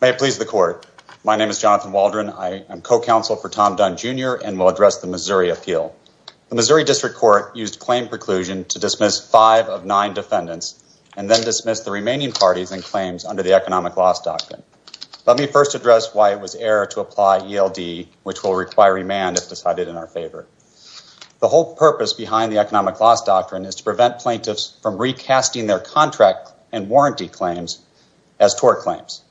May it please the court. My name is Jonathan Waldron. I am co-counsel for Tom Dunne, Jr. and will address the Missouri appeal. The Missouri District Court used claim preclusion to dismiss five of nine defendants and then dismiss the remaining parties and claims under the economic loss doctrine. Let me first address why it was error to apply ELD, which will require remand if decided in our favor. The whole purpose behind the economic loss doctrine is to prevent plaintiffs from recasting their contract and warranty claims as tort claims.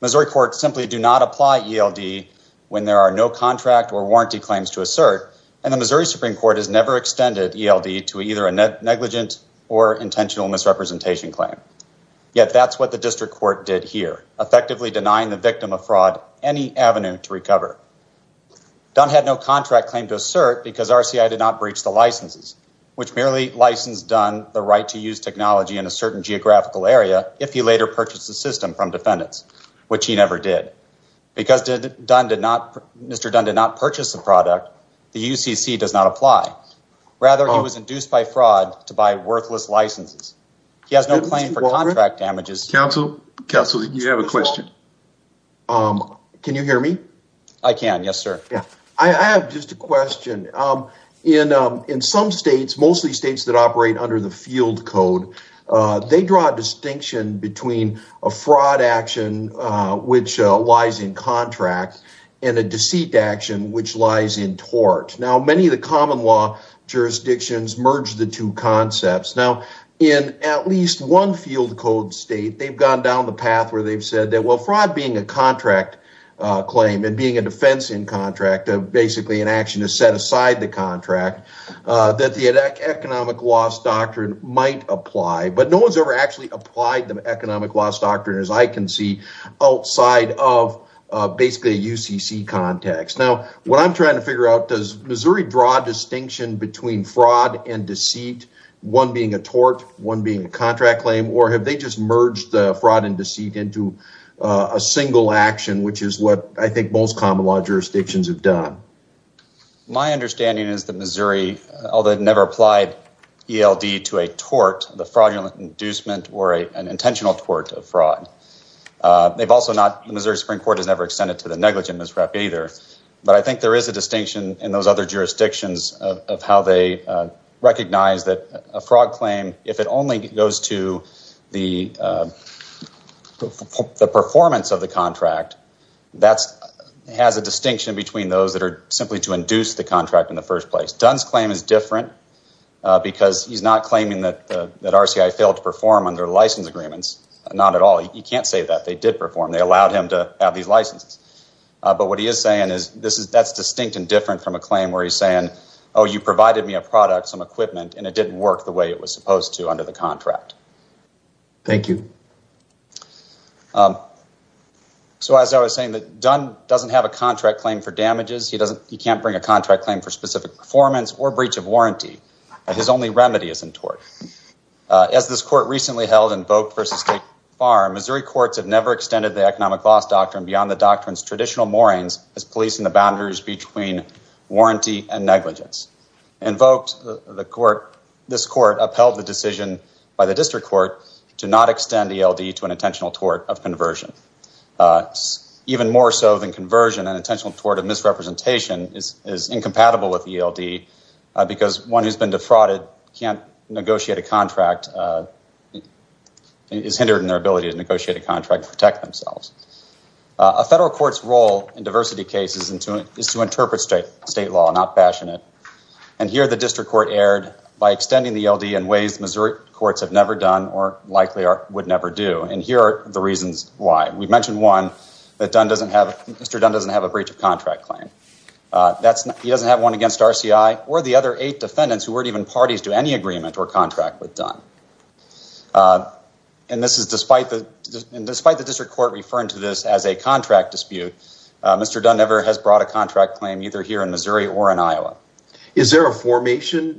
Missouri courts simply do not apply ELD when there are no contract or warranty claims to assert and the Missouri Supreme Court has never extended ELD to either a negligent or intentional misrepresentation claim. Yet that's what the District Court did here, effectively denying the victim of fraud any avenue to recover. Dunne had no contract claim to assert because RCI did not breach the licenses, which merely licensed Dunne the right to use technology in a certain geographical area if he later purchased the system from defendants, which he never did. Because Mr. Dunne did not purchase the product, the UCC does not apply. Rather, he was induced by fraud to buy worthless licenses. He has no claim for contract damages. Counsel, you have a question. Can you hear me? I can, yes sir. I have just a question. In some states, mostly states that operate under the field code, they draw a distinction between a fraud action which lies in contract and a deceit action which lies in tort. Now, many of the common law jurisdictions merge the two concepts. Now, in at least one field code state, they've gone down the path where they've said that fraud being a contract claim and being a defense in contract, basically an action to set aside the contract, that the economic loss doctrine might apply. But no one's ever actually applied the economic loss doctrine, as I can see, outside of basically a UCC context. Now, what I'm trying to figure out, does Missouri draw a distinction between fraud and deceit, one being a tort, one being a contract claim, or have they just merged the fraud and deceit into a single action, which is what I think most common law jurisdictions have done? My understanding is that Missouri, although it never applied ELD to a tort, the fraudulent inducement or an intentional tort of fraud, they've also not, the Missouri Supreme Court has never extended to the negligent misrep either. But I think there is a distinction in those other jurisdictions of how they recognize that a fraud claim, if it only goes to the performance of the contract, that has a distinction between those that are simply to induce the contract in the first place. Dunn's claim is different because he's not claiming that RCI failed to perform under license agreements, not at all. You can't say that they did perform. They allowed him to have these licenses. But what he is saying is, that's distinct and different from a claim where he's saying, oh, you provided me a product, some equipment, and it didn't work the way it was supposed to under the contract. Thank you. So, as I was saying, Dunn doesn't have a contract claim for damages. He can't bring a contract claim for specific performance or breach of warranty. His only remedy is in tort. As this court recently held in Voigt v. State Farm, Missouri courts have never extended the economic loss doctrine beyond the doctrine's traditional moorings as policing the boundaries between not extend ELD to an intentional tort of conversion. Even more so than conversion, an intentional tort of misrepresentation is incompatible with ELD because one who's been defrauded can't negotiate a contract, is hindered in their ability to negotiate a contract and protect themselves. A federal court's role in diversity cases is to interpret state law, not fashion it. And here the district court erred by extending the ELD in ways Missouri courts have never done or likely would never do. And here are the reasons why. We mentioned one, that Mr. Dunn doesn't have a breach of contract claim. He doesn't have one against RCI or the other eight defendants who weren't even parties to any agreement or contract with Dunn. And despite the district court referring to this as a contract dispute, Mr. Dunn never has brought a contract claim either here in Missouri or in Iowa. Is there a formation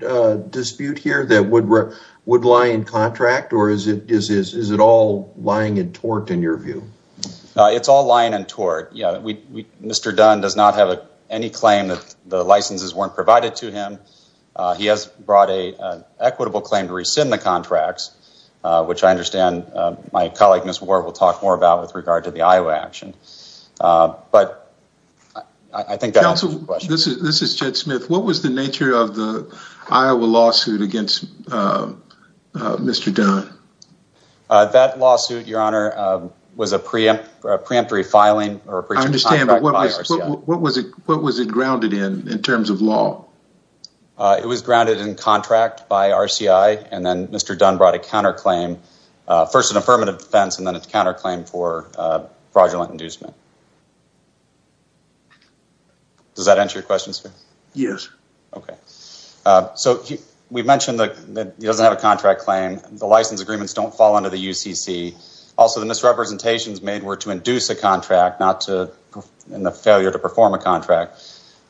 dispute here that would lie in contract or is it all lying in tort in your view? It's all lying in tort. Mr. Dunn does not have any claim that the licenses weren't provided to him. He has brought an equitable claim to rescind the contracts, which I understand my colleague Ms. Ward will talk more about with regard to the Iowa action. But I think This is Jed Smith. What was the nature of the Iowa lawsuit against Mr. Dunn? That lawsuit, your honor, was a preemptory filing. I understand, but what was it grounded in, in terms of law? It was grounded in contract by RCI and then Mr. Dunn brought a counterclaim, first an affirmative defense and then a counterclaim for fraudulent inducement. Does that answer your question, sir? Yes. Okay. So we mentioned that he doesn't have a contract claim. The license agreements don't fall under the UCC. Also, the misrepresentations made were to induce a contract, not in the failure to perform a contract.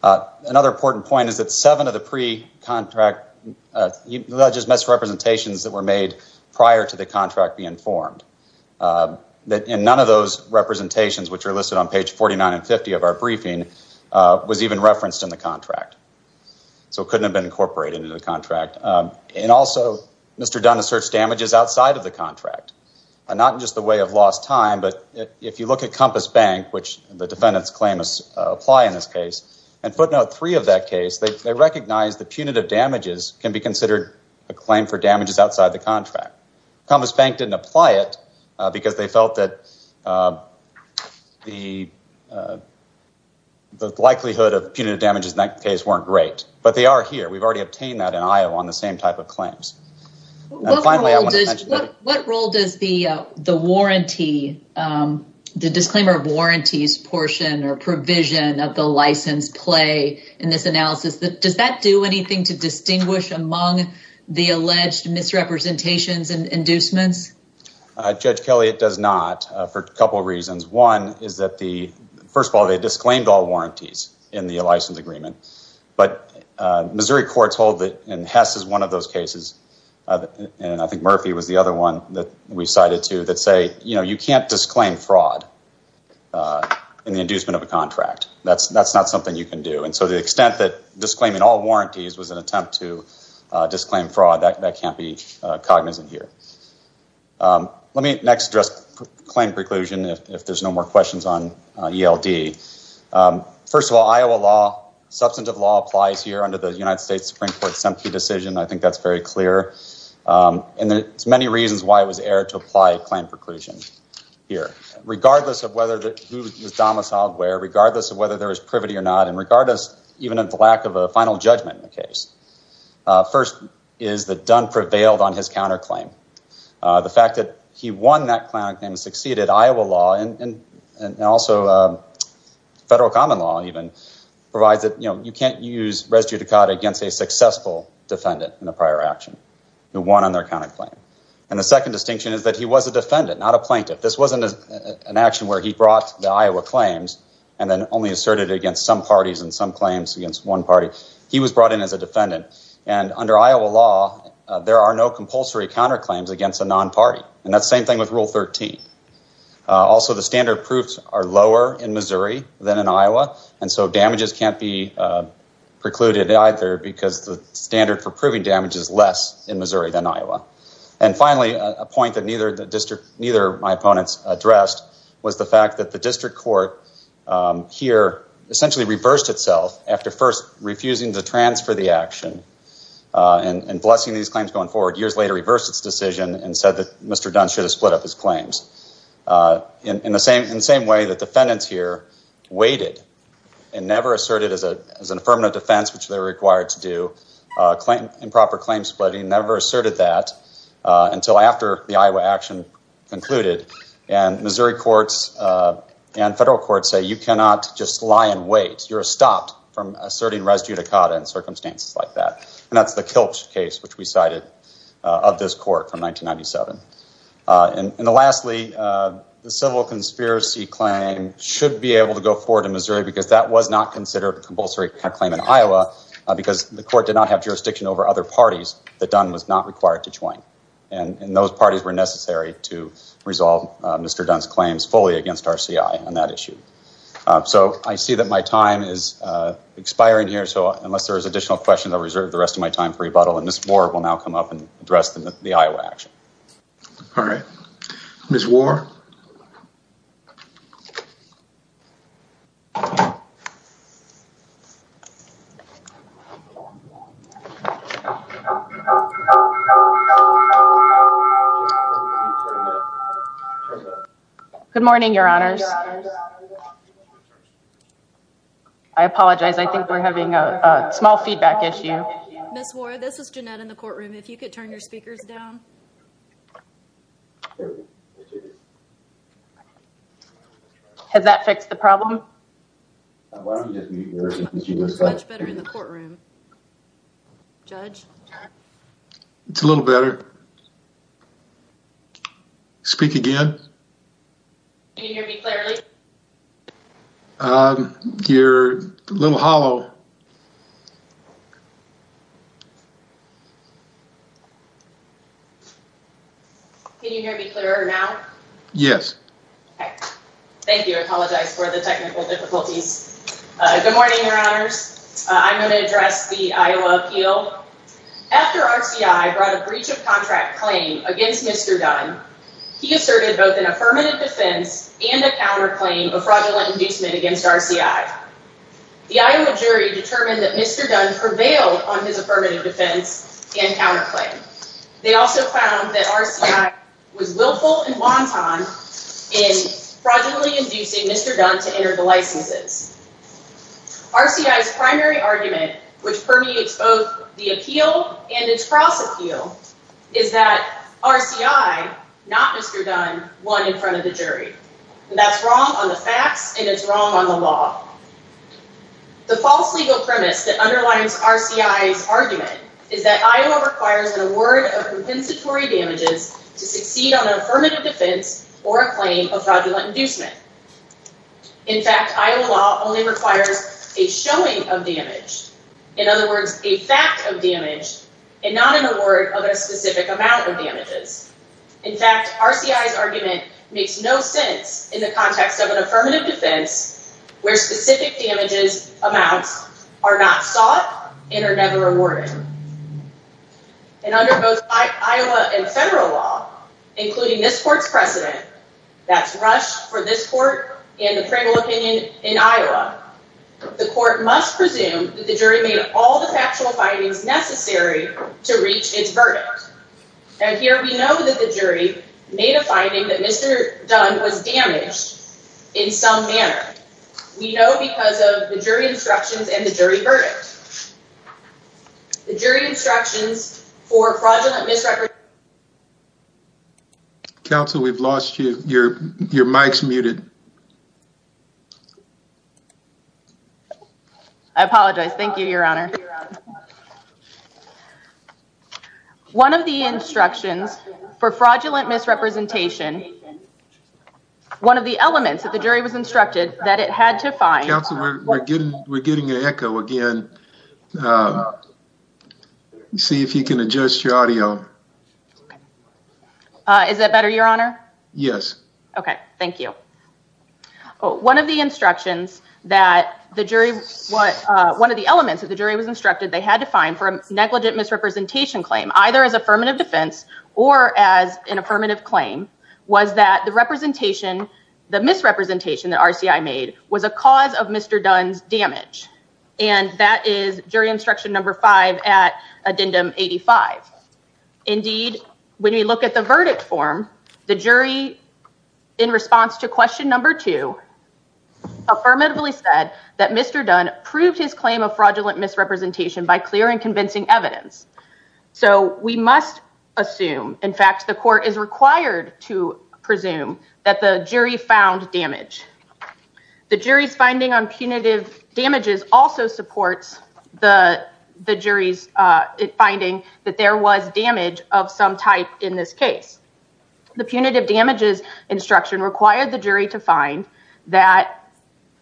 Another important point is that seven of the pre-contract misrepresentations that were made prior to the contract being formed. And none of those representations which are listed on page 49 and 50 of our briefing was even referenced in the contract. So it couldn't have been incorporated into the contract. And also, Mr. Dunn asserts damages outside of the contract. Not in just the way of lost time, but if you look at Compass Bank, which the defendants claim is apply in this case, and footnote three of that case, they recognize the punitive damages can be considered a claim for damages outside the contract. Compass Bank didn't apply it because they felt that the likelihood of punitive damages in that case weren't great, but they are here. We've already obtained that in Iowa on the same type of claims. What role does the disclaimer of warranties portion or provision of the license play in this analysis? Does that do anything to distinguish among the alleged misrepresentations and inducements? Judge Kelly, it does not for a couple of reasons. One is that the, first of all, they disclaimed all warranties in the license agreement. But Missouri courts hold that, and Hess is one of those cases, and I think Murphy was the other one that we cited too, that say, you know, you can't disclaim fraud in the inducement of a contract. That's not something you can do. And so the extent that disclaiming all warranties was an attempt to disclaim fraud, that can't be cognizant here. Let me next address claim preclusion, if there's no more questions on ELD. First of all, Iowa law, substantive law applies here under the United States Supreme Court's SEMPTE decision. I think that's very clear. And there's many reasons why it was aired to apply claim preclusion here. Regardless of whether who was domiciled where, regardless of whether there was privity or not, and regardless even of the lack of a final judgment in the case. First is that Dunn prevailed on his counterclaim. The fact that he won that counterclaim and succeeded, Iowa law, and also federal common law even, provides that, you know, you can't use res judicata against a successful defendant in a prior action who won on their counterclaim. And the second distinction is that he was a defendant, not a plaintiff. This wasn't an asserted against some parties and some claims against one party. He was brought in as a defendant. And under Iowa law, there are no compulsory counterclaims against a non-party. And that's the same thing with Rule 13. Also, the standard proofs are lower in Missouri than in Iowa, and so damages can't be precluded either because the standard for proving damage is less in Missouri than Iowa. And finally, a point that neither of my opponents addressed was the fact that the district court here essentially reversed itself after first refusing to transfer the action and blessing these claims going forward, years later reversed its decision and said that Mr. Dunn should have split up his claims. In the same way that defendants here waited and never asserted as an affirmative defense, which they were required to do, improper claim splitting, never asserted that until after the Iowa action concluded. And Missouri courts and federal courts say you cannot just lie in wait. You're stopped from asserting res judicata in circumstances like that. And that's the Kilch case which we cited of this court from 1997. And lastly, the civil conspiracy claim should be able to go forward in Missouri because that was not considered a compulsory claim in Iowa because the court did not have jurisdiction over other parties that Dunn was not required to join. And those parties were necessary to resolve Mr. Dunn's claims fully against RCI on that issue. So I see that my time is expiring here, so unless there's additional questions, I'll reserve the rest of my time for rebuttal and Ms. Warr will now come up and address the Iowa action. All right. Ms. Warr. Good morning, your honors. I apologize. I think we're having a small feedback issue. Ms. Warr, this is Jeanette in the courtroom. If you could turn your speakers down. Has that fixed the problem? It's a little better. Speak again. Can you hear me clearly? You're a little hollow. Can you hear me clearer now? Yes. Thank you. I apologize for the technical difficulties. Good morning, your honors. I'm going to address the Iowa appeal. After RCI brought a breach of contract claim against Mr. Dunn, he asserted both an affirmative defense and a counterclaim of fraudulent inducement against RCI. The Iowa jury determined that Mr. Dunn prevailed on his affirmative defense and counterclaim. They also found that RCI was willful and wanton in fraudulently inducing Mr. Dunn to enter the licenses. RCI's primary argument, which permeates both the appeal and its cross appeal, is that RCI, not Mr. Dunn, won in front of the jury. That's wrong on the facts and it's wrong on the law. The false legal premise that underlines RCI's argument is that Iowa requires an award of compensatory damages to succeed on an affirmative defense or a claim of fraudulent inducement. In fact, Iowa law only requires a showing of damage, in not an award of a specific amount of damages. In fact, RCI's argument makes no sense in the context of an affirmative defense where specific damages amounts are not sought and are never awarded. And under both Iowa and federal law, including this court's precedent, that's rushed for this court and the criminal opinion in Iowa, the court must presume that the jury made all the factual findings necessary to reach its verdict. And here we know that the jury made a finding that Mr. Dunn was damaged in some manner. We know because of the jury instructions and the jury verdict. The jury instructions for fraudulent misrepresentation Council, we've lost you. Your mic's muted. I apologize. Thank you, Your Honor. One of the instructions for fraudulent misrepresentation, one of the elements that the jury was instructed that it had to find Council, we're getting an echo again. Let's see if you can adjust your audio. Is that better, Your Honor? Yes. Okay, thank you. One of the instructions that the jury, one of the elements that the jury was instructed they had to find for a negligent misrepresentation claim, either as affirmative defense or as an affirmative claim, was that the representation, the misrepresentation that RCI made, was a cause of Mr. Dunn's damage. And that is jury instruction number five at addendum 85. Indeed, when we look at the verdict form, the jury, in response to question number two, affirmatively said that Mr. Dunn proved his claim of fraudulent misrepresentation by clear and convincing evidence. So we must assume, in fact, the jury's finding on punitive damages also supports the jury's finding that there was damage of some type in this case. The punitive damages instruction required the jury to find that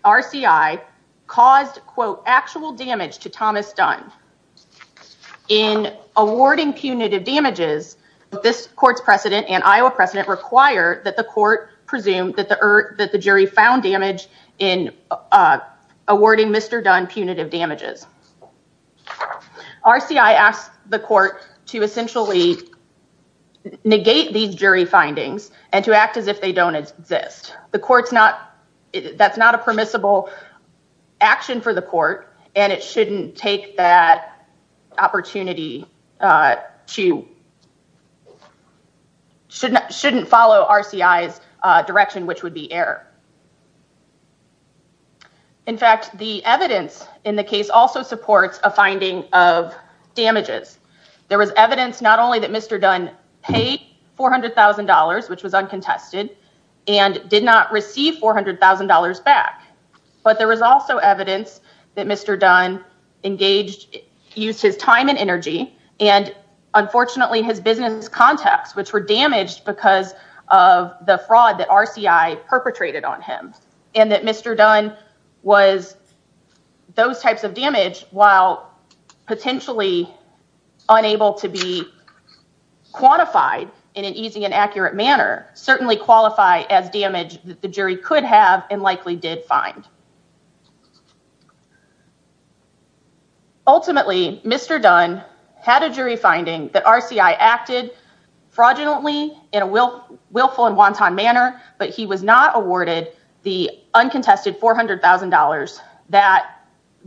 RCI caused, quote, actual damage to Thomas Dunn. In awarding punitive damages, this court's found damage in awarding Mr. Dunn punitive damages. RCI asked the court to essentially negate these jury findings and to act as if they don't exist. The court's not, that's not a permissible action for the court, and it shouldn't take that opportunity to, shouldn't follow RCI's direction, which would be error. In fact, the evidence in the case also supports a finding of damages. There was evidence not only that Mr. Dunn paid $400,000, which was uncontested, and did not receive $400,000 back, but there was also evidence that Mr. Dunn engaged, used his time and energy, and unfortunately his business contacts, which were damaged because of the fraud that RCI perpetrated on him, and that Mr. Dunn was those types of damage, while potentially unable to be quantified in an easy and accurate manner, certainly qualify as damage that the jury could have and likely did find. Ultimately, Mr. Dunn had a jury finding that RCI acted fraudulently in a willful and wanton manner, but he was not awarded the uncontested $400,000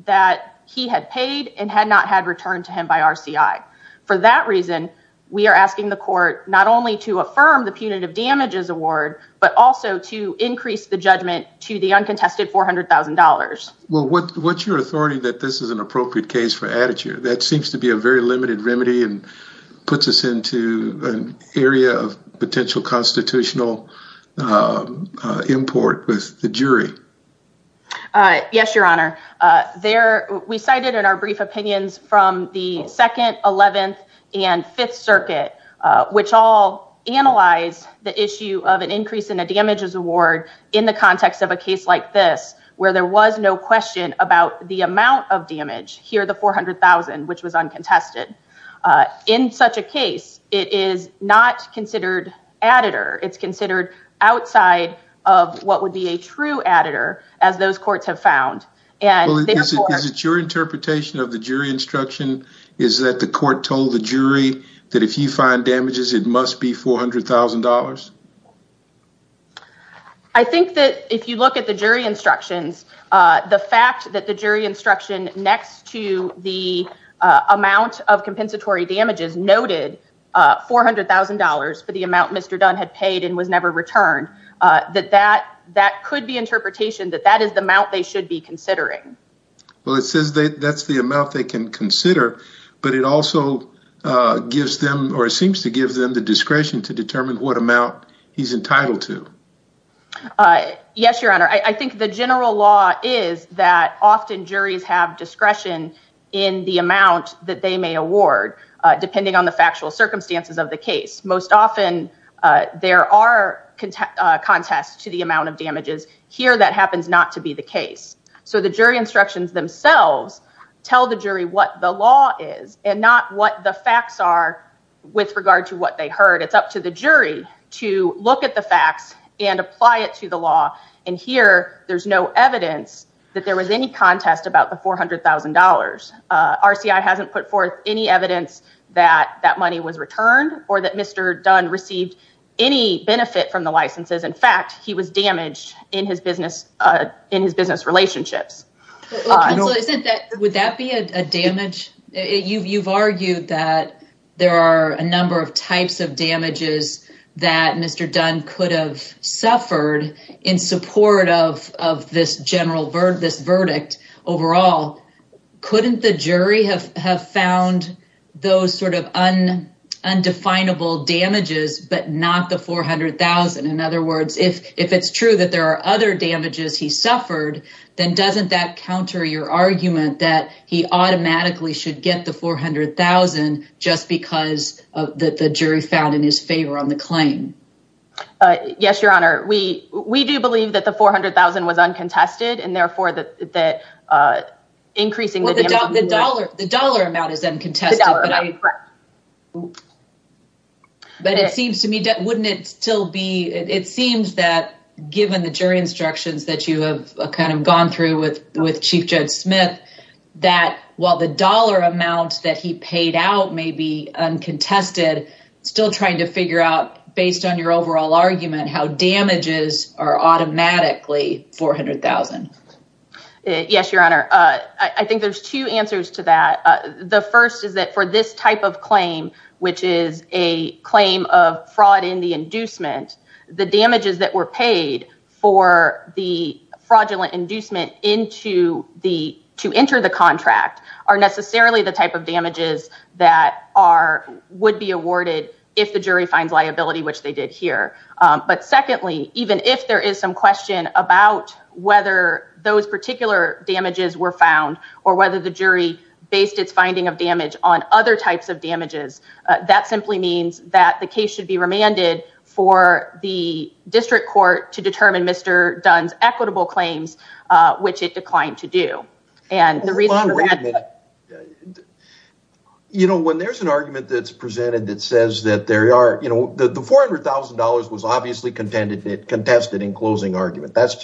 that he had paid and had not had returned to him by RCI. For that reason, we are asking the court not only to affirm the punitive damages award, but also to increase the judgment to the uncontested $400,000. Well, what's your authority that this is an appropriate case for attitude? That seems to be a very limited remedy and puts us into an area of potential constitutional import with the jury. Yes, Your Honor. We cited in our brief opinions from the 2nd, 11th, and 5th Circuit, which all analyzed the issue of an increase in a damages award in the context of a case like this, where there was no question about the amount of damage, here the $400,000, which was uncontested. In such a case, it is not considered additive. It's considered outside of what would be a true additive, as those courts have found. Is it your interpretation of the jury instruction is that the court told the jury that if you find damages, it must be $400,000? I think that if you look at the jury instructions, the fact that the jury instruction next to the amount of compensatory damages noted $400,000 for the amount Mr. Dunn had paid and was never returned, that that could be interpretation that that is the amount they should be considering. Well, it says that's the amount they can consider, but it also gives them or seems to give them the discretion to determine what amount he's entitled to. Yes, Your Honor. I think the general law is that often juries have discretion in the amount that they may award, depending on the factual circumstances of the case. Most often, there are contests to the amount of damages. Here, that happens not to be the case. So the jury instructions themselves tell the jury what the law is and not what the facts are with regard to what they heard. It's up to the jury to look at the facts and apply it to the law. And here, there's no evidence that there was any contest about the $400,000. RCI hasn't put forth any evidence that that money was returned or that Mr. Dunn received any benefit from the licenses. In fact, he was damaged in his business relationships. Would that be a damage? You've argued that there are a number of types of damages that Mr. Dunn could have suffered in support of this verdict overall. Couldn't the jury have found those sort of undefinable damages, but not the $400,000? In other words, if it's true that there are other damages he suffered, then doesn't that counter your argument that he automatically should get the $400,000 just because of the jury found in his favor on the claim? Yes, Your Honor. We do believe that the $400,000 was uncontested and therefore that increasing the dollar amount is uncontested. But it seems to me, wouldn't it still be, it seems that given the jury instructions that you have kind of gone through with Chief Judge Smith, that while the dollar amount that he paid out may be uncontested, still trying to figure out based on your overall argument how damages are automatically $400,000. Yes, Your Honor. I think there's two answers to that. The first is that for this type of claim, which is a claim of fraud in the inducement, the damages that were paid for the fraudulent inducement to enter the contract are necessarily the type of damages that would be awarded if the jury finds liability, which they did here. But secondly, even if there is some question about whether those particular damages were found or whether the jury based its finding of damage on other types of damages, that simply means that the case should be remanded for the district court to determine Mr. Dunn's equitable claims, which it declined to do. You know, when there's an argument that's presented that says that there are, you know, the $400,000 was obviously contested in closing argument. That's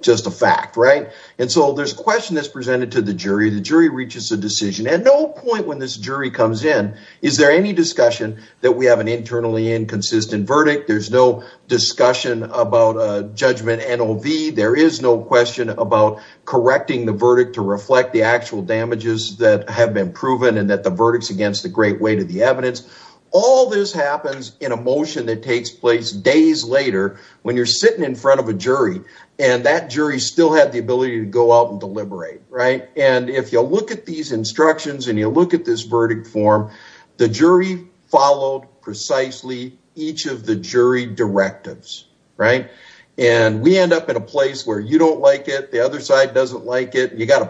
just a fact, right? And so there's a question that's presented to the jury. The jury reaches a decision. At no point when this jury comes in, is there any discussion that we have an internally inconsistent verdict? There's no discussion about a judgment NOV. There is no question about correcting the verdict to reflect the actual damages that have been proven and that the verdict's against the great weight of the evidence. All this happens in a motion that takes place days later when you're sitting in front of a jury and that jury still had the ability to go out and deliberate, right? And if you'll look at these instructions and you look at this verdict form, the jury followed precisely each of the jury directives, right? And we end up in a place where you don't like it. The other side doesn't like it. You got a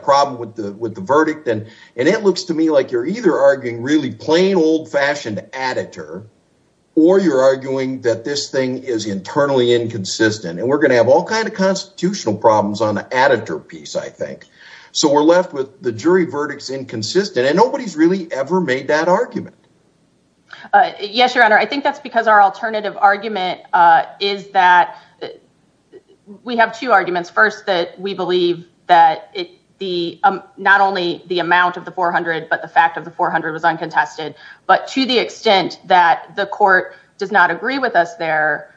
really plain old fashioned editor or you're arguing that this thing is internally inconsistent and we're going to have all kinds of constitutional problems on the editor piece, I think. So we're left with the jury verdicts inconsistent and nobody's really ever made that argument. Yes, your honor. I think that's because our alternative argument is that we have two was uncontested. But to the extent that the court does not agree with us there,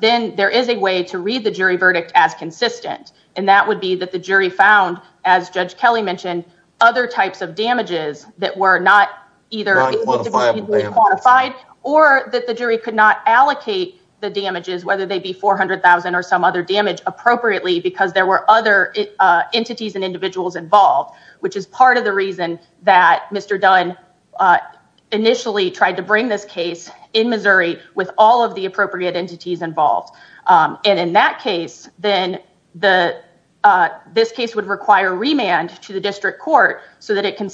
then there is a way to read the jury verdict as consistent. And that would be that the jury found, as Judge Kelly mentioned, other types of damages that were not either qualified or that the jury could not allocate the damages, whether they be four hundred thousand or some other damage appropriately, because there were other entities and individuals involved, which is part of the reason that Mr. Dunn initially tried to bring this case in Missouri with all of the appropriate entities involved. And in that case, then this case would require remand to the district court so that it can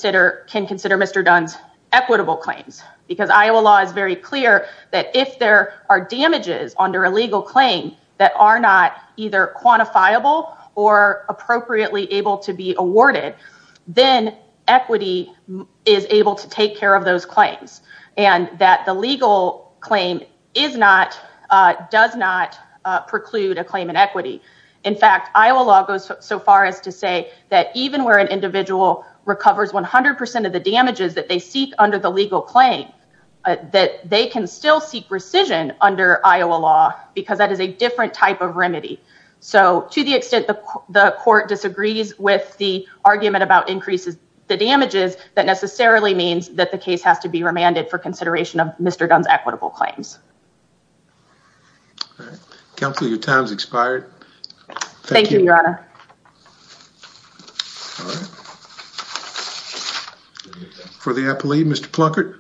consider Mr. Dunn's equitable claims, because Iowa law is very clear that if there are damages under a legal claim that are not either equity is able to take care of those claims and that the legal claim is not does not preclude a claim in equity. In fact, Iowa law goes so far as to say that even where an individual recovers one hundred percent of the damages that they seek under the legal claim, that they can still seek rescission under Iowa law because that is a different type of remedy. So to the extent the court disagrees with the argument about increases, the damages that necessarily means that the case has to be remanded for consideration of Mr. Dunn's equitable claims. Counsel, your time's expired. Thank you, Your Honor. For the appellee, Mr. Plunkett.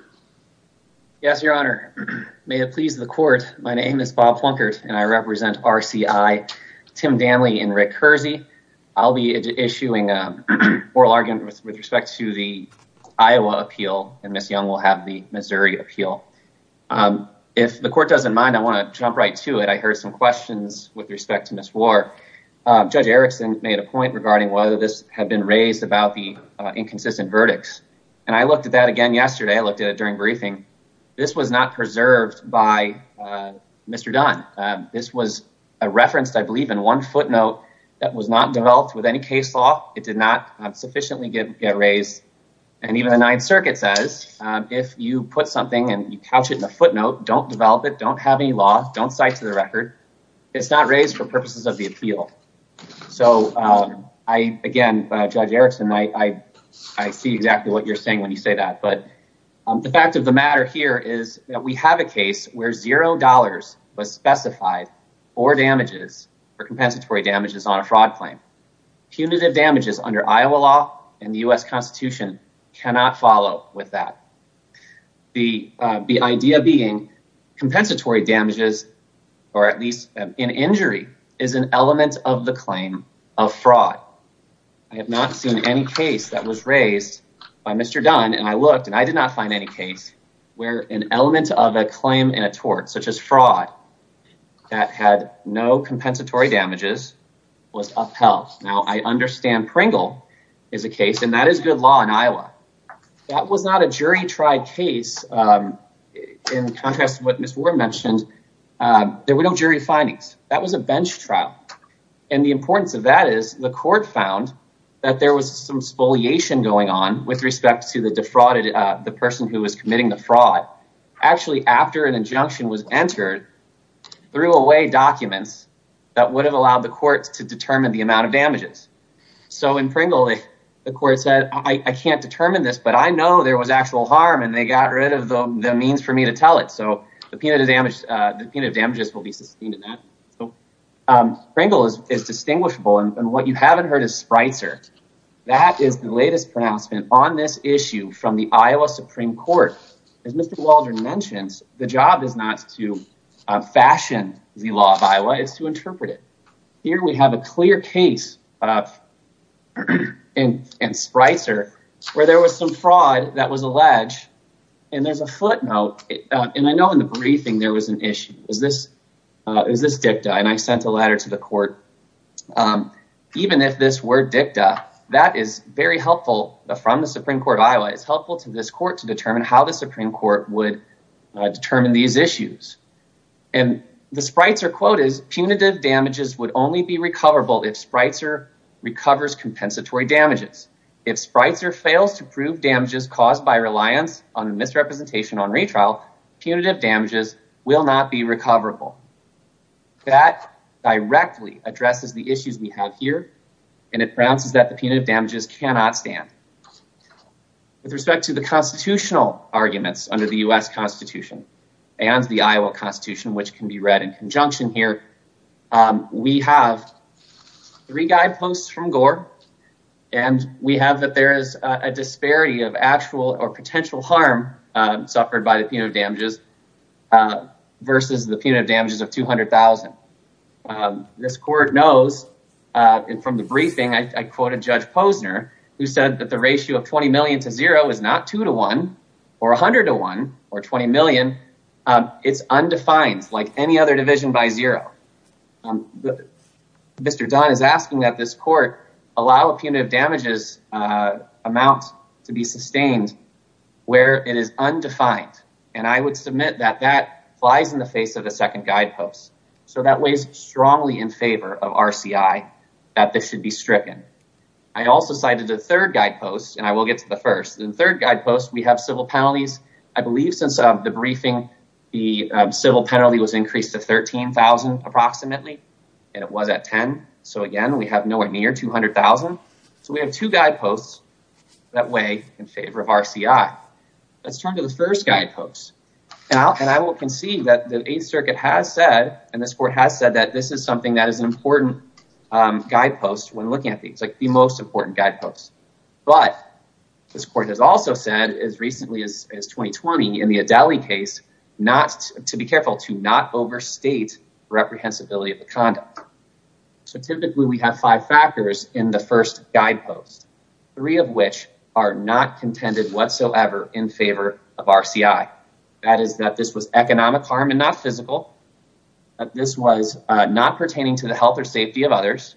Yes, Your Honor. May it please the court. My name is Bob Plunkett and I represent RCI Tim Danley and Rick Hersey. I'll be issuing an oral argument with respect to the Iowa appeal and Ms. Young will have the Missouri appeal. If the court doesn't mind, I want to jump right to it. I heard some questions with respect to Ms. Warr. Judge Erickson made a point regarding whether this had been raised about the inconsistent verdicts. And I looked at that again yesterday. I looked at it during briefing. This was not preserved by Mr. Dunn. This was referenced, I believe, in one footnote that was not developed with any case law. It did not sufficiently get raised. And even the Ninth Circuit says if you put something and you couch it in a footnote, don't develop it, don't have any law, don't cite to the record, it's not raised for purposes of the appeal. So I again, Judge Erickson, I see exactly what you're saying when you say that. But the fact of the matter here is that we have not specified or damages for compensatory damages on a fraud claim. Punitive damages under Iowa law and the U.S. Constitution cannot follow with that. The idea being compensatory damages or at least an injury is an element of the claim of fraud. I have not seen any case that was raised by Mr. Dunn and I looked and I did not find any case where an element of a claim in a tort such as fraud that had no compensatory damages was upheld. Now, I understand Pringle is a case and that is good law in Iowa. That was not a jury-tried case. In contrast to what Ms. Warren mentioned, there were no jury findings. That was a bench trial. And the importance of that is the court found that there was some spoliation going on with respect to the defrauded, the person who was committing the fraud. Actually, after an injunction was entered, threw away documents that would have allowed the courts to determine the amount of damages. So in Pringle, the court said, I can't determine this, but I know there was actual harm and they got rid of the means for me to tell it. So the punitive damages will be sustained in that. Pringle is distinguishable. And what you haven't heard is Spreitzer. That is the latest pronouncement on this issue from the Iowa Supreme Court. As Mr. Waldron mentions, the job is not to fashion the law of Iowa, it's to interpret it. Here we have a clear case in Spreitzer where there was some fraud that was alleged and there's a footnote. And I know in the briefing there was an issue. It was this dicta and I sent a letter to the court. Even if this were dicta, that is very helpful from the Supreme Court of Iowa. It's helpful to this court to determine how the Supreme Court would determine these issues. And the Spreitzer quote is punitive damages would only be recoverable if Spreitzer recovers compensatory damages. If Spreitzer fails to prove damages caused by reliance on misrepresentation on retrial, punitive damages will not be recoverable. That directly addresses the issues we have here. And it pronounces that the punitive damages cannot stand. With respect to the constitutional arguments under the U.S. Constitution and the Iowa Constitution, which can be read in conjunction here, we have three guideposts from Gore. And we have that there is a disparity of actual or potential harm suffered by the punitive damages versus the punitive damages of 200,000. This court knows from the briefing I quoted Judge Posner who said that the ratio of 20 million to zero is not 2 to 1 or 100 to 1 or 20 million. It's undefined like any other division by zero. Mr. Dunn is asking that this court allow a punitive damages amount to be sustained where it is undefined. And I would submit that that flies in the face of the second guidepost. So that weighs strongly in favor of RCI that this should be stricken. I also cited the third guidepost and I will get to the first. In the third guidepost we have civil penalties. I believe since the briefing the civil penalty was increased to 13,000 approximately and it was at 10. So, again, we have nowhere near 200,000. So we have two guideposts that weigh in favor of RCI. Let's turn to the first guidepost. And I will concede that the Eighth Circuit has said and this court has said that this is something that is an important guidepost when looking at these, like the most important guidepost. But this court has also said as recently as 2020 in the Adelie case to be careful to not overstate reprehensibility of the conduct. So typically we have five factors in the first guidepost. Three of which are not contended whatsoever in favor of RCI. That is that this was economic harm and not physical. That this was not pertaining to the health or safety of others.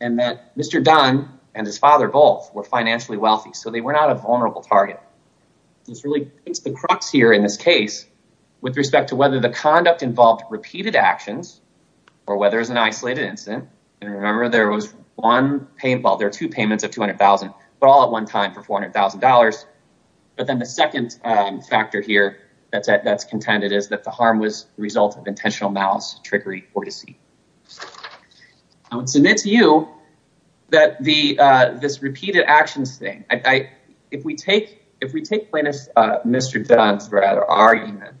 And that Mr. Dunn and his father both were financially wealthy. So they were not a vulnerable target. This really hits the crux here in this case with respect to whether the conduct involved repeated actions or whether it's an isolated incident. And remember there was one, well, there are two payments of 200,000, but all at one time for $400,000. But then the second factor here that's contended is that the harm was the result of intentional malice, trickery or deceit. I would submit to you that this repeated actions thing, if we take Mr. Dunn's argument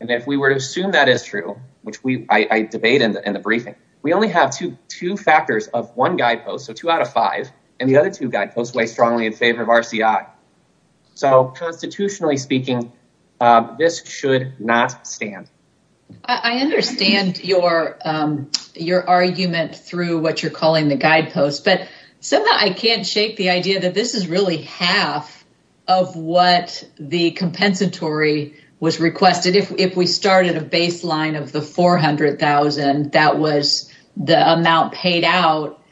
and if we were to assume that is true, which I debate in the briefing, we only have two factors of one guidepost. So two out of five and the other two guideposts weigh strongly in favor of RCI. So constitutionally speaking, this should not stand. I understand your argument through what you're calling the guidepost, but somehow I can't shake the idea that this is really half of what the compensatory was requested. If we started a baseline of the 400,000, that was the amount paid out.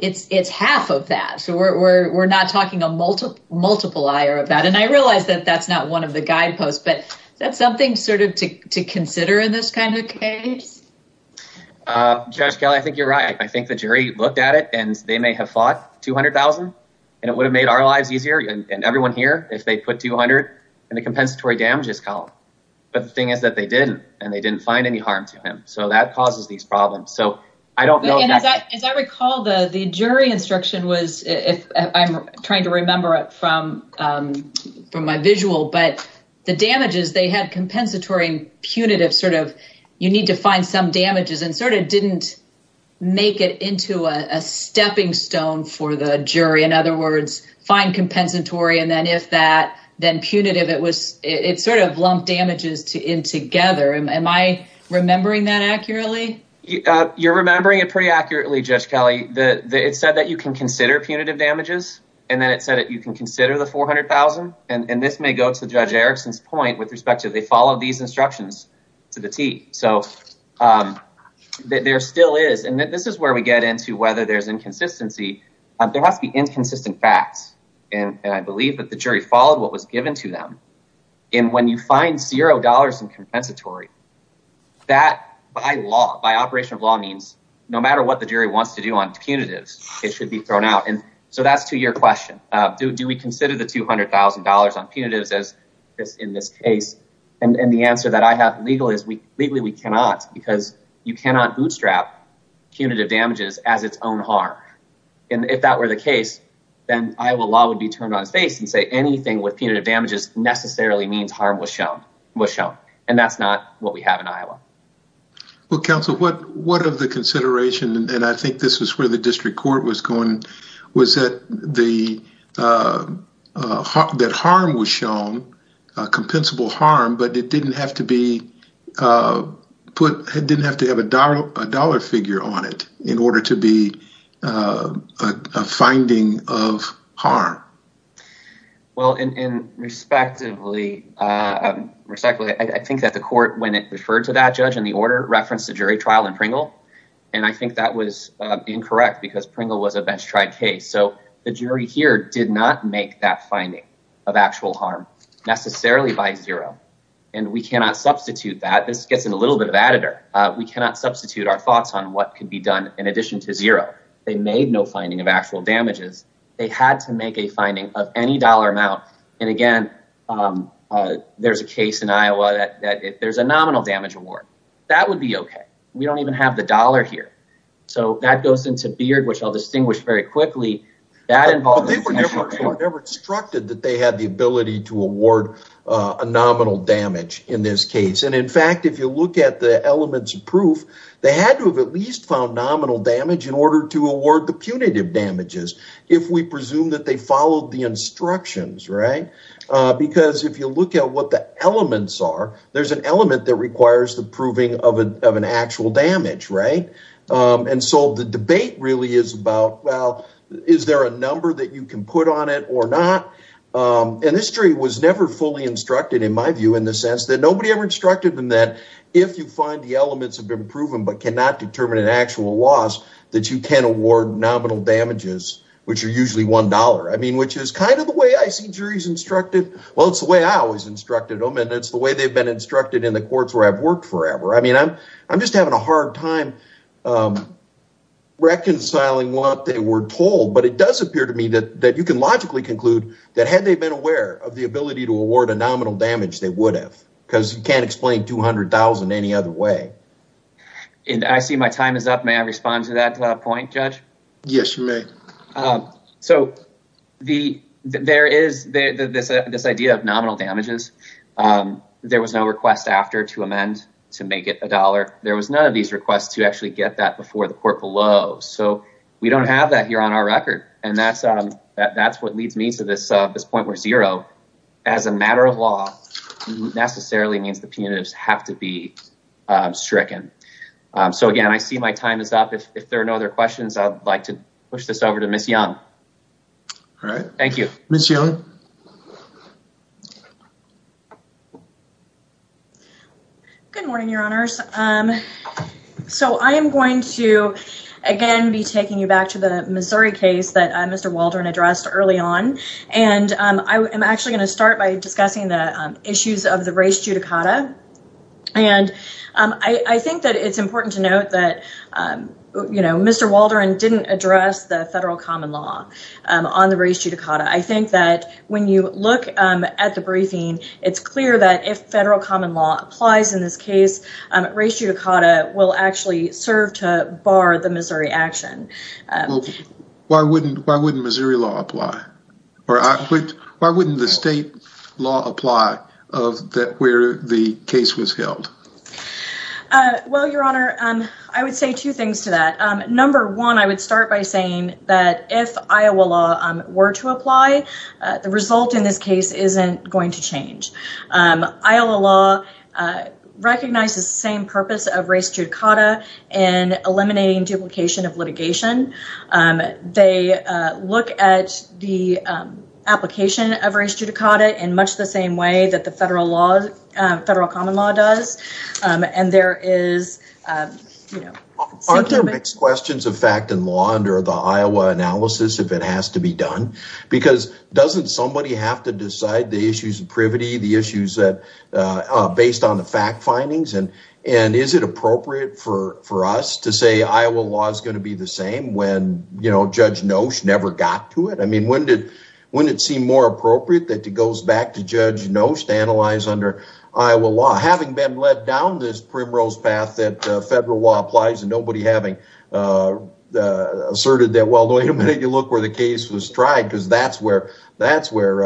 It's half of that. So we're not talking a multiple eye of that. And I realize that that's not one of the guideposts, but that's something sort of to consider in this kind of case. Judge Kelly, I think you're right. I think the jury looked at it and they may have fought 200,000 and it would have made our lives easier and everyone here if they put 200 and the compensatory damage is called. But the thing is that they didn't and they didn't find any harm to him. So that causes these problems. So I don't know. As I recall, the jury instruction was if I'm trying to remember it from my visual, but the sort of didn't make it into a stepping stone for the jury. In other words, find compensatory. And then if that then punitive, it was it sort of lumped damages in together. Am I remembering that accurately? You're remembering it pretty accurately, Judge Kelly. It said that you can consider punitive damages and then it said that you can consider the 400,000. And this may go to Judge Erickson's point with respect to they follow these instructions to the T. So there still is. And this is where we get into whether there's inconsistency. There must be inconsistent facts. And I believe that the jury followed what was given to them. And when you find zero dollars in compensatory, that by law, by operation of law means no matter what the jury wants to do on punitives, it should be thrown out. And so that's to your question. Do we consider the 200,000 dollars on punitives as in this case? And the answer that I have legally is we legally we cannot because you cannot bootstrap punitive damages as its own harm. And if that were the case, then Iowa law would be turned on its face and say anything with punitive damages necessarily means harm was shown was shown. Well, counsel, what what of the consideration? And I think this is where the district court was going. Was that the that harm was shown a compensable harm, but it didn't have to be put. It didn't have to have a dollar a dollar figure on it in order to be a finding of harm. Well, and respectively, I think that the court, when it referred to that judge in the order, referenced the jury trial in Pringle. And I think that was incorrect because Pringle was a best tried case. So the jury here did not make that finding of actual harm necessarily by zero. And we cannot substitute that. This gets in a little bit of editor. We cannot substitute our thoughts on what could be done in addition to zero. They made no finding of actual damages. They had to make a finding of any dollar amount. And again, there's a case in Iowa that there's a nominal damage award. That would be OK. We don't even have the dollar here. So that goes into Beard, which I'll distinguish very quickly. That involved never instructed that they had the ability to award a nominal damage in this case. And in fact, if you look at the elements of proof, they had to have at least found nominal damage in order to award the punitive damages if we presume that they followed the instructions. Right. Because if you look at what the elements are, there's an element that requires the proving of an actual damage. Right. And so the debate really is about, well, is there a number that you can put on it or not? And this jury was never fully instructed, in my view, in the sense that nobody ever instructed them that if you find the elements have been proven but cannot determine an actual loss, that you can award nominal damages, which are usually one dollar, I mean, which is kind of the way I see juries instructed. Well, it's the way I always instructed them. And it's the way they've been instructed in the courts where I've worked forever. I mean, I'm I'm just having a hard time reconciling what they were told. But it does appear to me that that you can logically conclude that had they been aware of the ability to award a nominal damage, they would have because you can't explain two hundred thousand any other way. And I see my time is up. May I respond to that point, Judge? Yes, you may. So the there is this idea of nominal damages. There was no request after to amend to make it a dollar. There was none of these requests to actually get that before the court below. So we don't have that here on our record. And that's that's what leads me to this. This point where zero as a matter of law necessarily means the punitives have to be stricken. So, again, I see my time is up. If there are no other questions, I'd like to push this over to Miss Young. Thank you. Miss Young. Good morning, your honors. So I am going to, again, be taking you back to the Missouri case that Mr. Waldron addressed early on. And I am actually going to start by discussing the issues of the race judicata. And I think that it's important to note that, you know, Mr. Waldron didn't address the federal common law on the race judicata. I think that when you look at the briefing, it's clear that if federal common law applies in this case, race judicata will actually serve to bar the Missouri action. Why wouldn't why wouldn't Missouri law apply or why wouldn't the state law apply of that where the case was held? Well, your honor, I would say two things to that. Number one, I would start by saying that if Iowa law were to apply, the result in this case isn't going to change. Iowa law recognizes the same purpose of race judicata and eliminating duplication of litigation. They look at the application of race judicata in much the same way that the federal law, federal common law does. And there is, you know, aren't there mixed questions of fact and law under the Iowa analysis if it has to be done? Because doesn't somebody have to decide the issues of privity, the issues that are based on the fact findings? And and is it appropriate for for us to say Iowa law is going to be the same when, you know, Judge Nosh never got to it? I mean, when did when it seemed more appropriate that it goes back to Judge Nosh to analyze under Iowa law? Having been led down this primrose path that federal law applies and nobody having asserted that. Well, wait a minute. You look where the case was tried because that's where that's where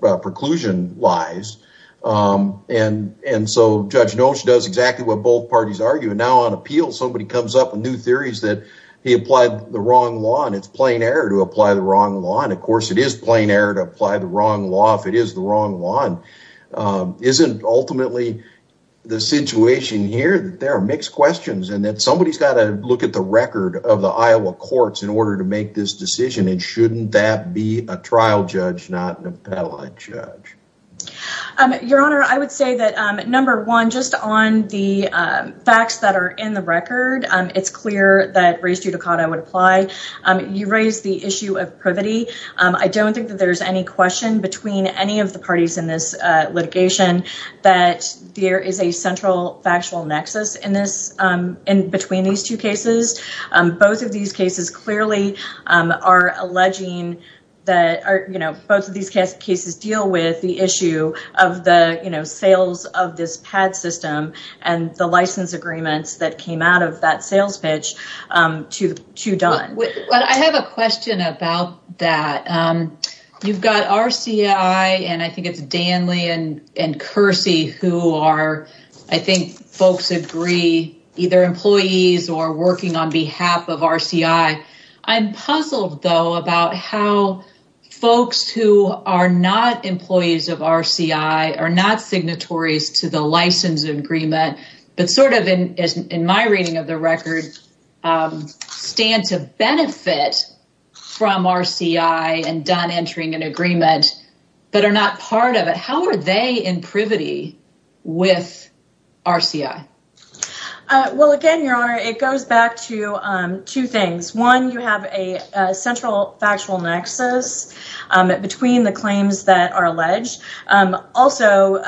preclusion lies. And and so Judge Nosh does exactly what both parties argue. And now on appeal, somebody comes up with new theories that he applied the wrong law and it's plain error to apply the wrong law. And, of course, it is plain error to apply the wrong law if it is the wrong one. Isn't ultimately the situation here that there are mixed questions and that somebody's got to look at the record of the Iowa courts in order to make this decision? And shouldn't that be a trial judge, not an appellate judge? Your Honor, I would say that, number one, just on the facts that are in the record, it's clear that race judicata would apply. You raise the issue of privity. I don't think that there's any question between any of the parties in this litigation that there is a central factual nexus in this. In between these two cases, both of these cases clearly are alleging that, you know, both of these cases deal with the issue of the sales of this PAD system and the license agreements that came out of that sales pitch to Dunn. I have a question about that. You've got RCI and I think it's Danley and and Kersey who are, I think, folks agree, either employees or working on behalf of RCI. I'm puzzled, though, about how folks who are not employees of RCI are not signatories to the license agreement, but sort of in my reading of the record stand to benefit from RCI and Dunn entering an agreement, but are not part of it. How are they in privity with RCI? Well, again, your honor, it goes back to two things. One, you have a central factual nexus between the claims that are alleged. Also,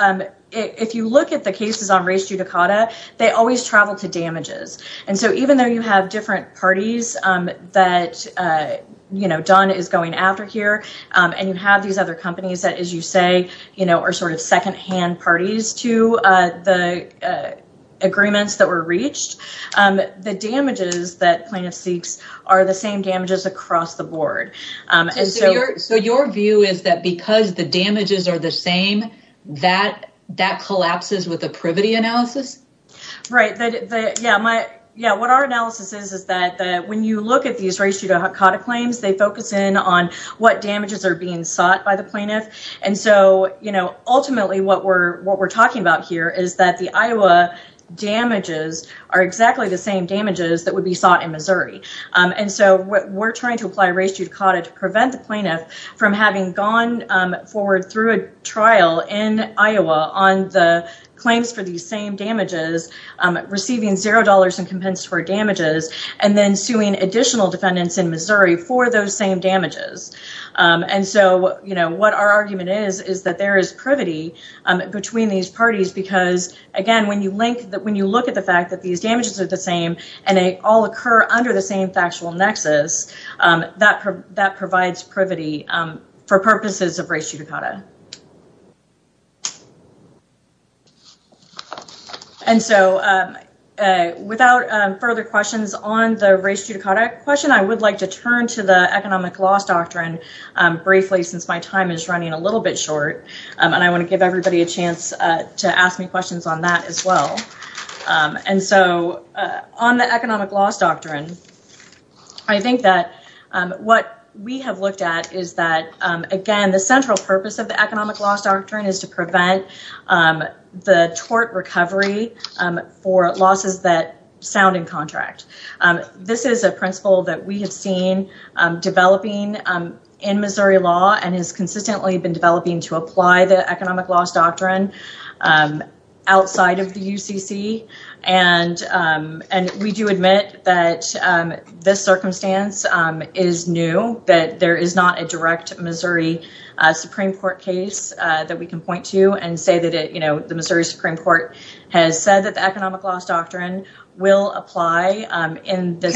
if you look at the cases on race judicata, they always travel to damages. And so even though you have different parties that, you know, Dunn is going after here and you have these other companies that, as you say, you know, are sort of second hand parties to the agreements that were reached. The damages that plaintiff seeks are the same damages across the board. And so your view is that because the damages are the same, that that collapses with the privity analysis. Right. Yeah. Yeah. What our analysis is, is that when you look at these race judicata claims, they focus in on what damages are being sought by the plaintiff. And so, you know, ultimately what we're what we're talking about here is that the Iowa damages are exactly the same damages that would be sought in Missouri. And so we're trying to apply race judicata to prevent the plaintiff from having gone forward through a trial in Iowa on the claims for these same damages. Receiving zero dollars in compensatory damages and then suing additional defendants in Missouri for those same damages. And so, you know, what our argument is, is that there is privity between these parties, because, again, when you link that when you look at the fact that these damages are the same and they all occur under the same factual nexus, that that provides privity for purposes of race judicata. And so without further questions on the race judicata question, I would like to turn to the economic loss doctrine briefly since my time is running a little bit short. And I want to give everybody a chance to ask me questions on that as well. And so on the economic loss doctrine, I think that what we have looked at is that, again, the central purpose of the economic loss doctrine is to prevent the tort recovery for losses that sound in contract. This is a principle that we have seen developing in Missouri law and has consistently been developing to apply the economic loss doctrine outside of the UCC. And and we do admit that this circumstance is new, that there is not a direct Missouri Supreme Court case that we can point to and say that, you know, the Missouri Supreme Court has said that the economic loss doctrine will apply in this.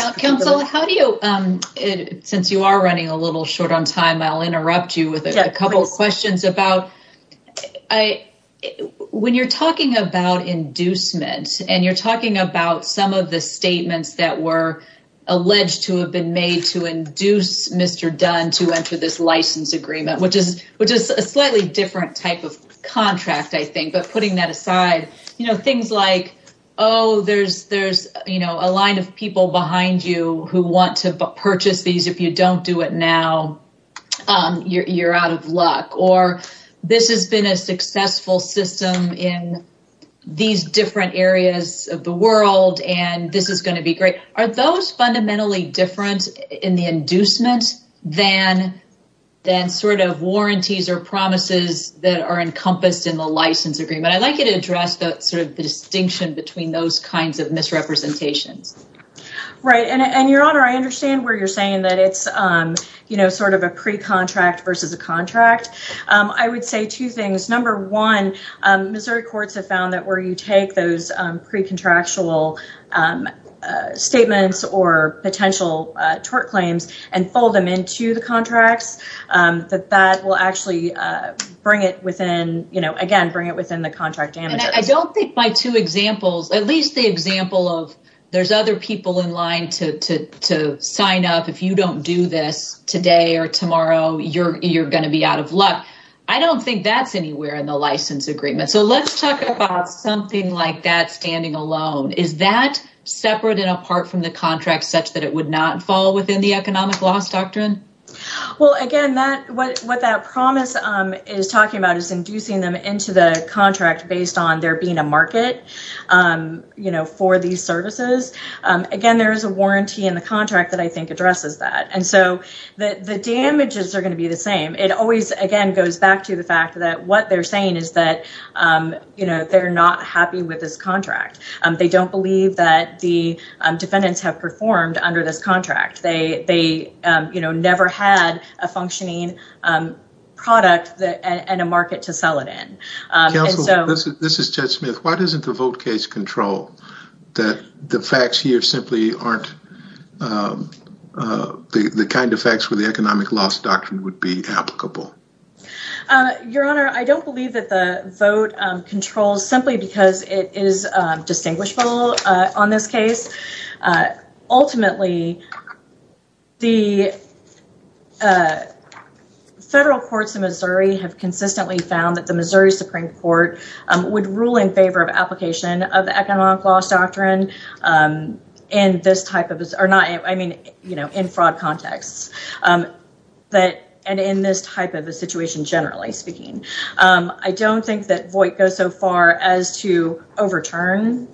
Since you are running a little short on time, I'll interrupt you with a couple of questions about when you're talking about inducement and you're talking about some of the statements that were alleged to have been made to induce Mr. Dunn to enter this license agreement, which is which is a slightly different type of contract, I think. But putting that aside, you know, things like, oh, there's there's, you know, a line of people behind you who want to purchase these. If you don't do it now, you're out of luck. Or this has been a successful system in these different areas of the world. And this is going to be great. Are those fundamentally different in the inducement than then sort of warranties or promises that are encompassed in the license agreement? I'd like you to address that sort of distinction between those kinds of misrepresentations. Right. And your honor, I understand where you're saying that it's, you know, sort of a pre contract versus a contract. I would say two things. Number one, Missouri courts have found that where you take those pre contractual statements or potential tort claims and fold them into the contracts, that that will actually bring it within, you know, again, bring it within the contract. And I don't think by two examples, at least the example of there's other people in line to to to sign up. If you don't do this today or tomorrow, you're you're going to be out of luck. I don't think that's anywhere in the license agreement. So let's talk about something like that. Is that separate and apart from the contract such that it would not fall within the economic loss doctrine? Well, again, that what that promise is talking about is inducing them into the contract based on there being a market, you know, for these services. Again, there is a warranty in the contract that I think addresses that. And so the damages are going to be the same. It always, again, goes back to the fact that what they're saying is that, you know, they're not happy with this contract. They don't believe that the defendants have performed under this contract. They they, you know, never had a functioning product and a market to sell it in. This is Judge Smith. Why doesn't the vote case control that the facts here simply aren't the kind of facts where the economic loss doctrine would be applicable? Your Honor, I don't believe that the vote controls simply because it is distinguishable on this case. Ultimately, the federal courts in Missouri have consistently found that the Missouri Supreme Court would rule in favor of application of economic loss doctrine in this type of or not. I mean, you know, in fraud contexts that and in this type of a situation, generally speaking, I don't think that Voight goes so far as to overturn,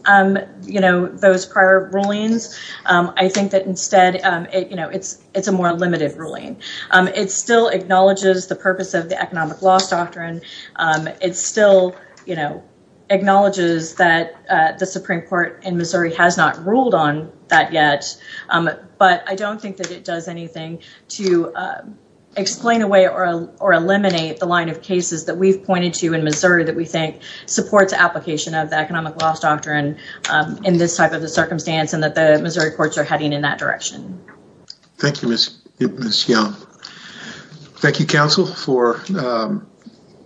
you know, those prior rulings. I think that instead, you know, it's it's a more limited ruling. It still acknowledges the purpose of the economic loss doctrine. It still acknowledges that the Supreme Court in Missouri has not ruled on that yet. But I don't think that it does anything to explain away or or eliminate the line of cases that we've pointed to in Missouri that we think supports application of the economic loss doctrine in this type of a circumstance and that the Missouri courts are heading in that direction. Thank you, Ms. Young. Thank you, counsel, for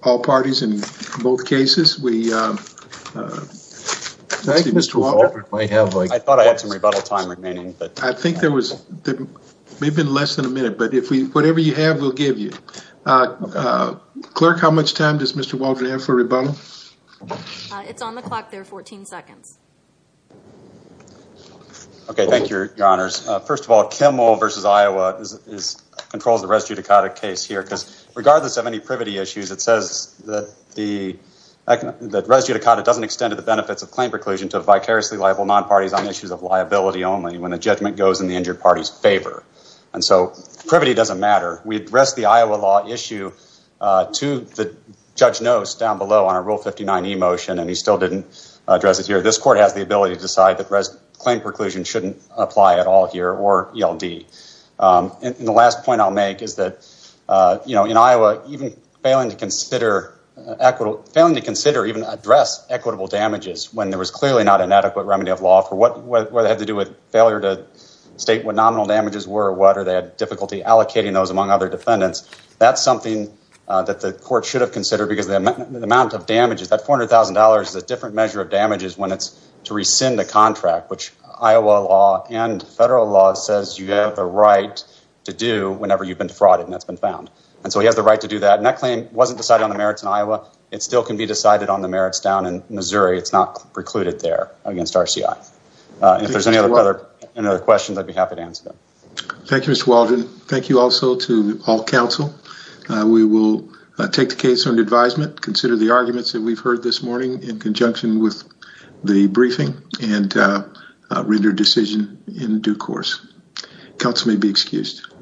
all parties in both cases. We thank Mr. Walker. I have like I thought I had some rebuttal time remaining, but I think there was maybe less than a minute. But if we whatever you have, we'll give you a clerk. How much time does Mr. Walker have for rebuttal? It's on the clock there. 14 seconds. OK, thank you, your honors. First of all, Kimmel v. Iowa controls the res judicata case here because regardless of any privity issues, it says that the res judicata doesn't extend to the benefits of claim preclusion to vicariously liable non-parties on issues of liability only when the judgment goes in the injured party's favor. And so privity doesn't matter. We address the Iowa law issue to the judge knows down below on a rule 59 motion, and he still didn't address it here. This court has the ability to decide that claim preclusion shouldn't apply at all here or yell D. And the last point I'll make is that, you know, in Iowa, even failing to consider equitable, failing to consider even address equitable damages when there was clearly not an adequate remedy of law for what they had to do with failure to state what nominal damages were or what or they had difficulty allocating those among other defendants. That's something that the court should have considered because the amount of damages, that $400,000 is a different measure of damages when it's to rescind a contract, which Iowa law and federal law says you have the right to do whenever you've been defrauded and that's been found. And so he has the right to do that. And that claim wasn't decided on the merits in Iowa. It still can be decided on the merits down in Missouri. It's not precluded there against RCI. If there's any other questions, I'd be happy to answer them. Thank you, Mr. Waldron. Thank you also to all counsel. We will take the case on advisement, consider the arguments that we've heard this morning in conjunction with the briefing and render decision in due course. Counsel may be excused.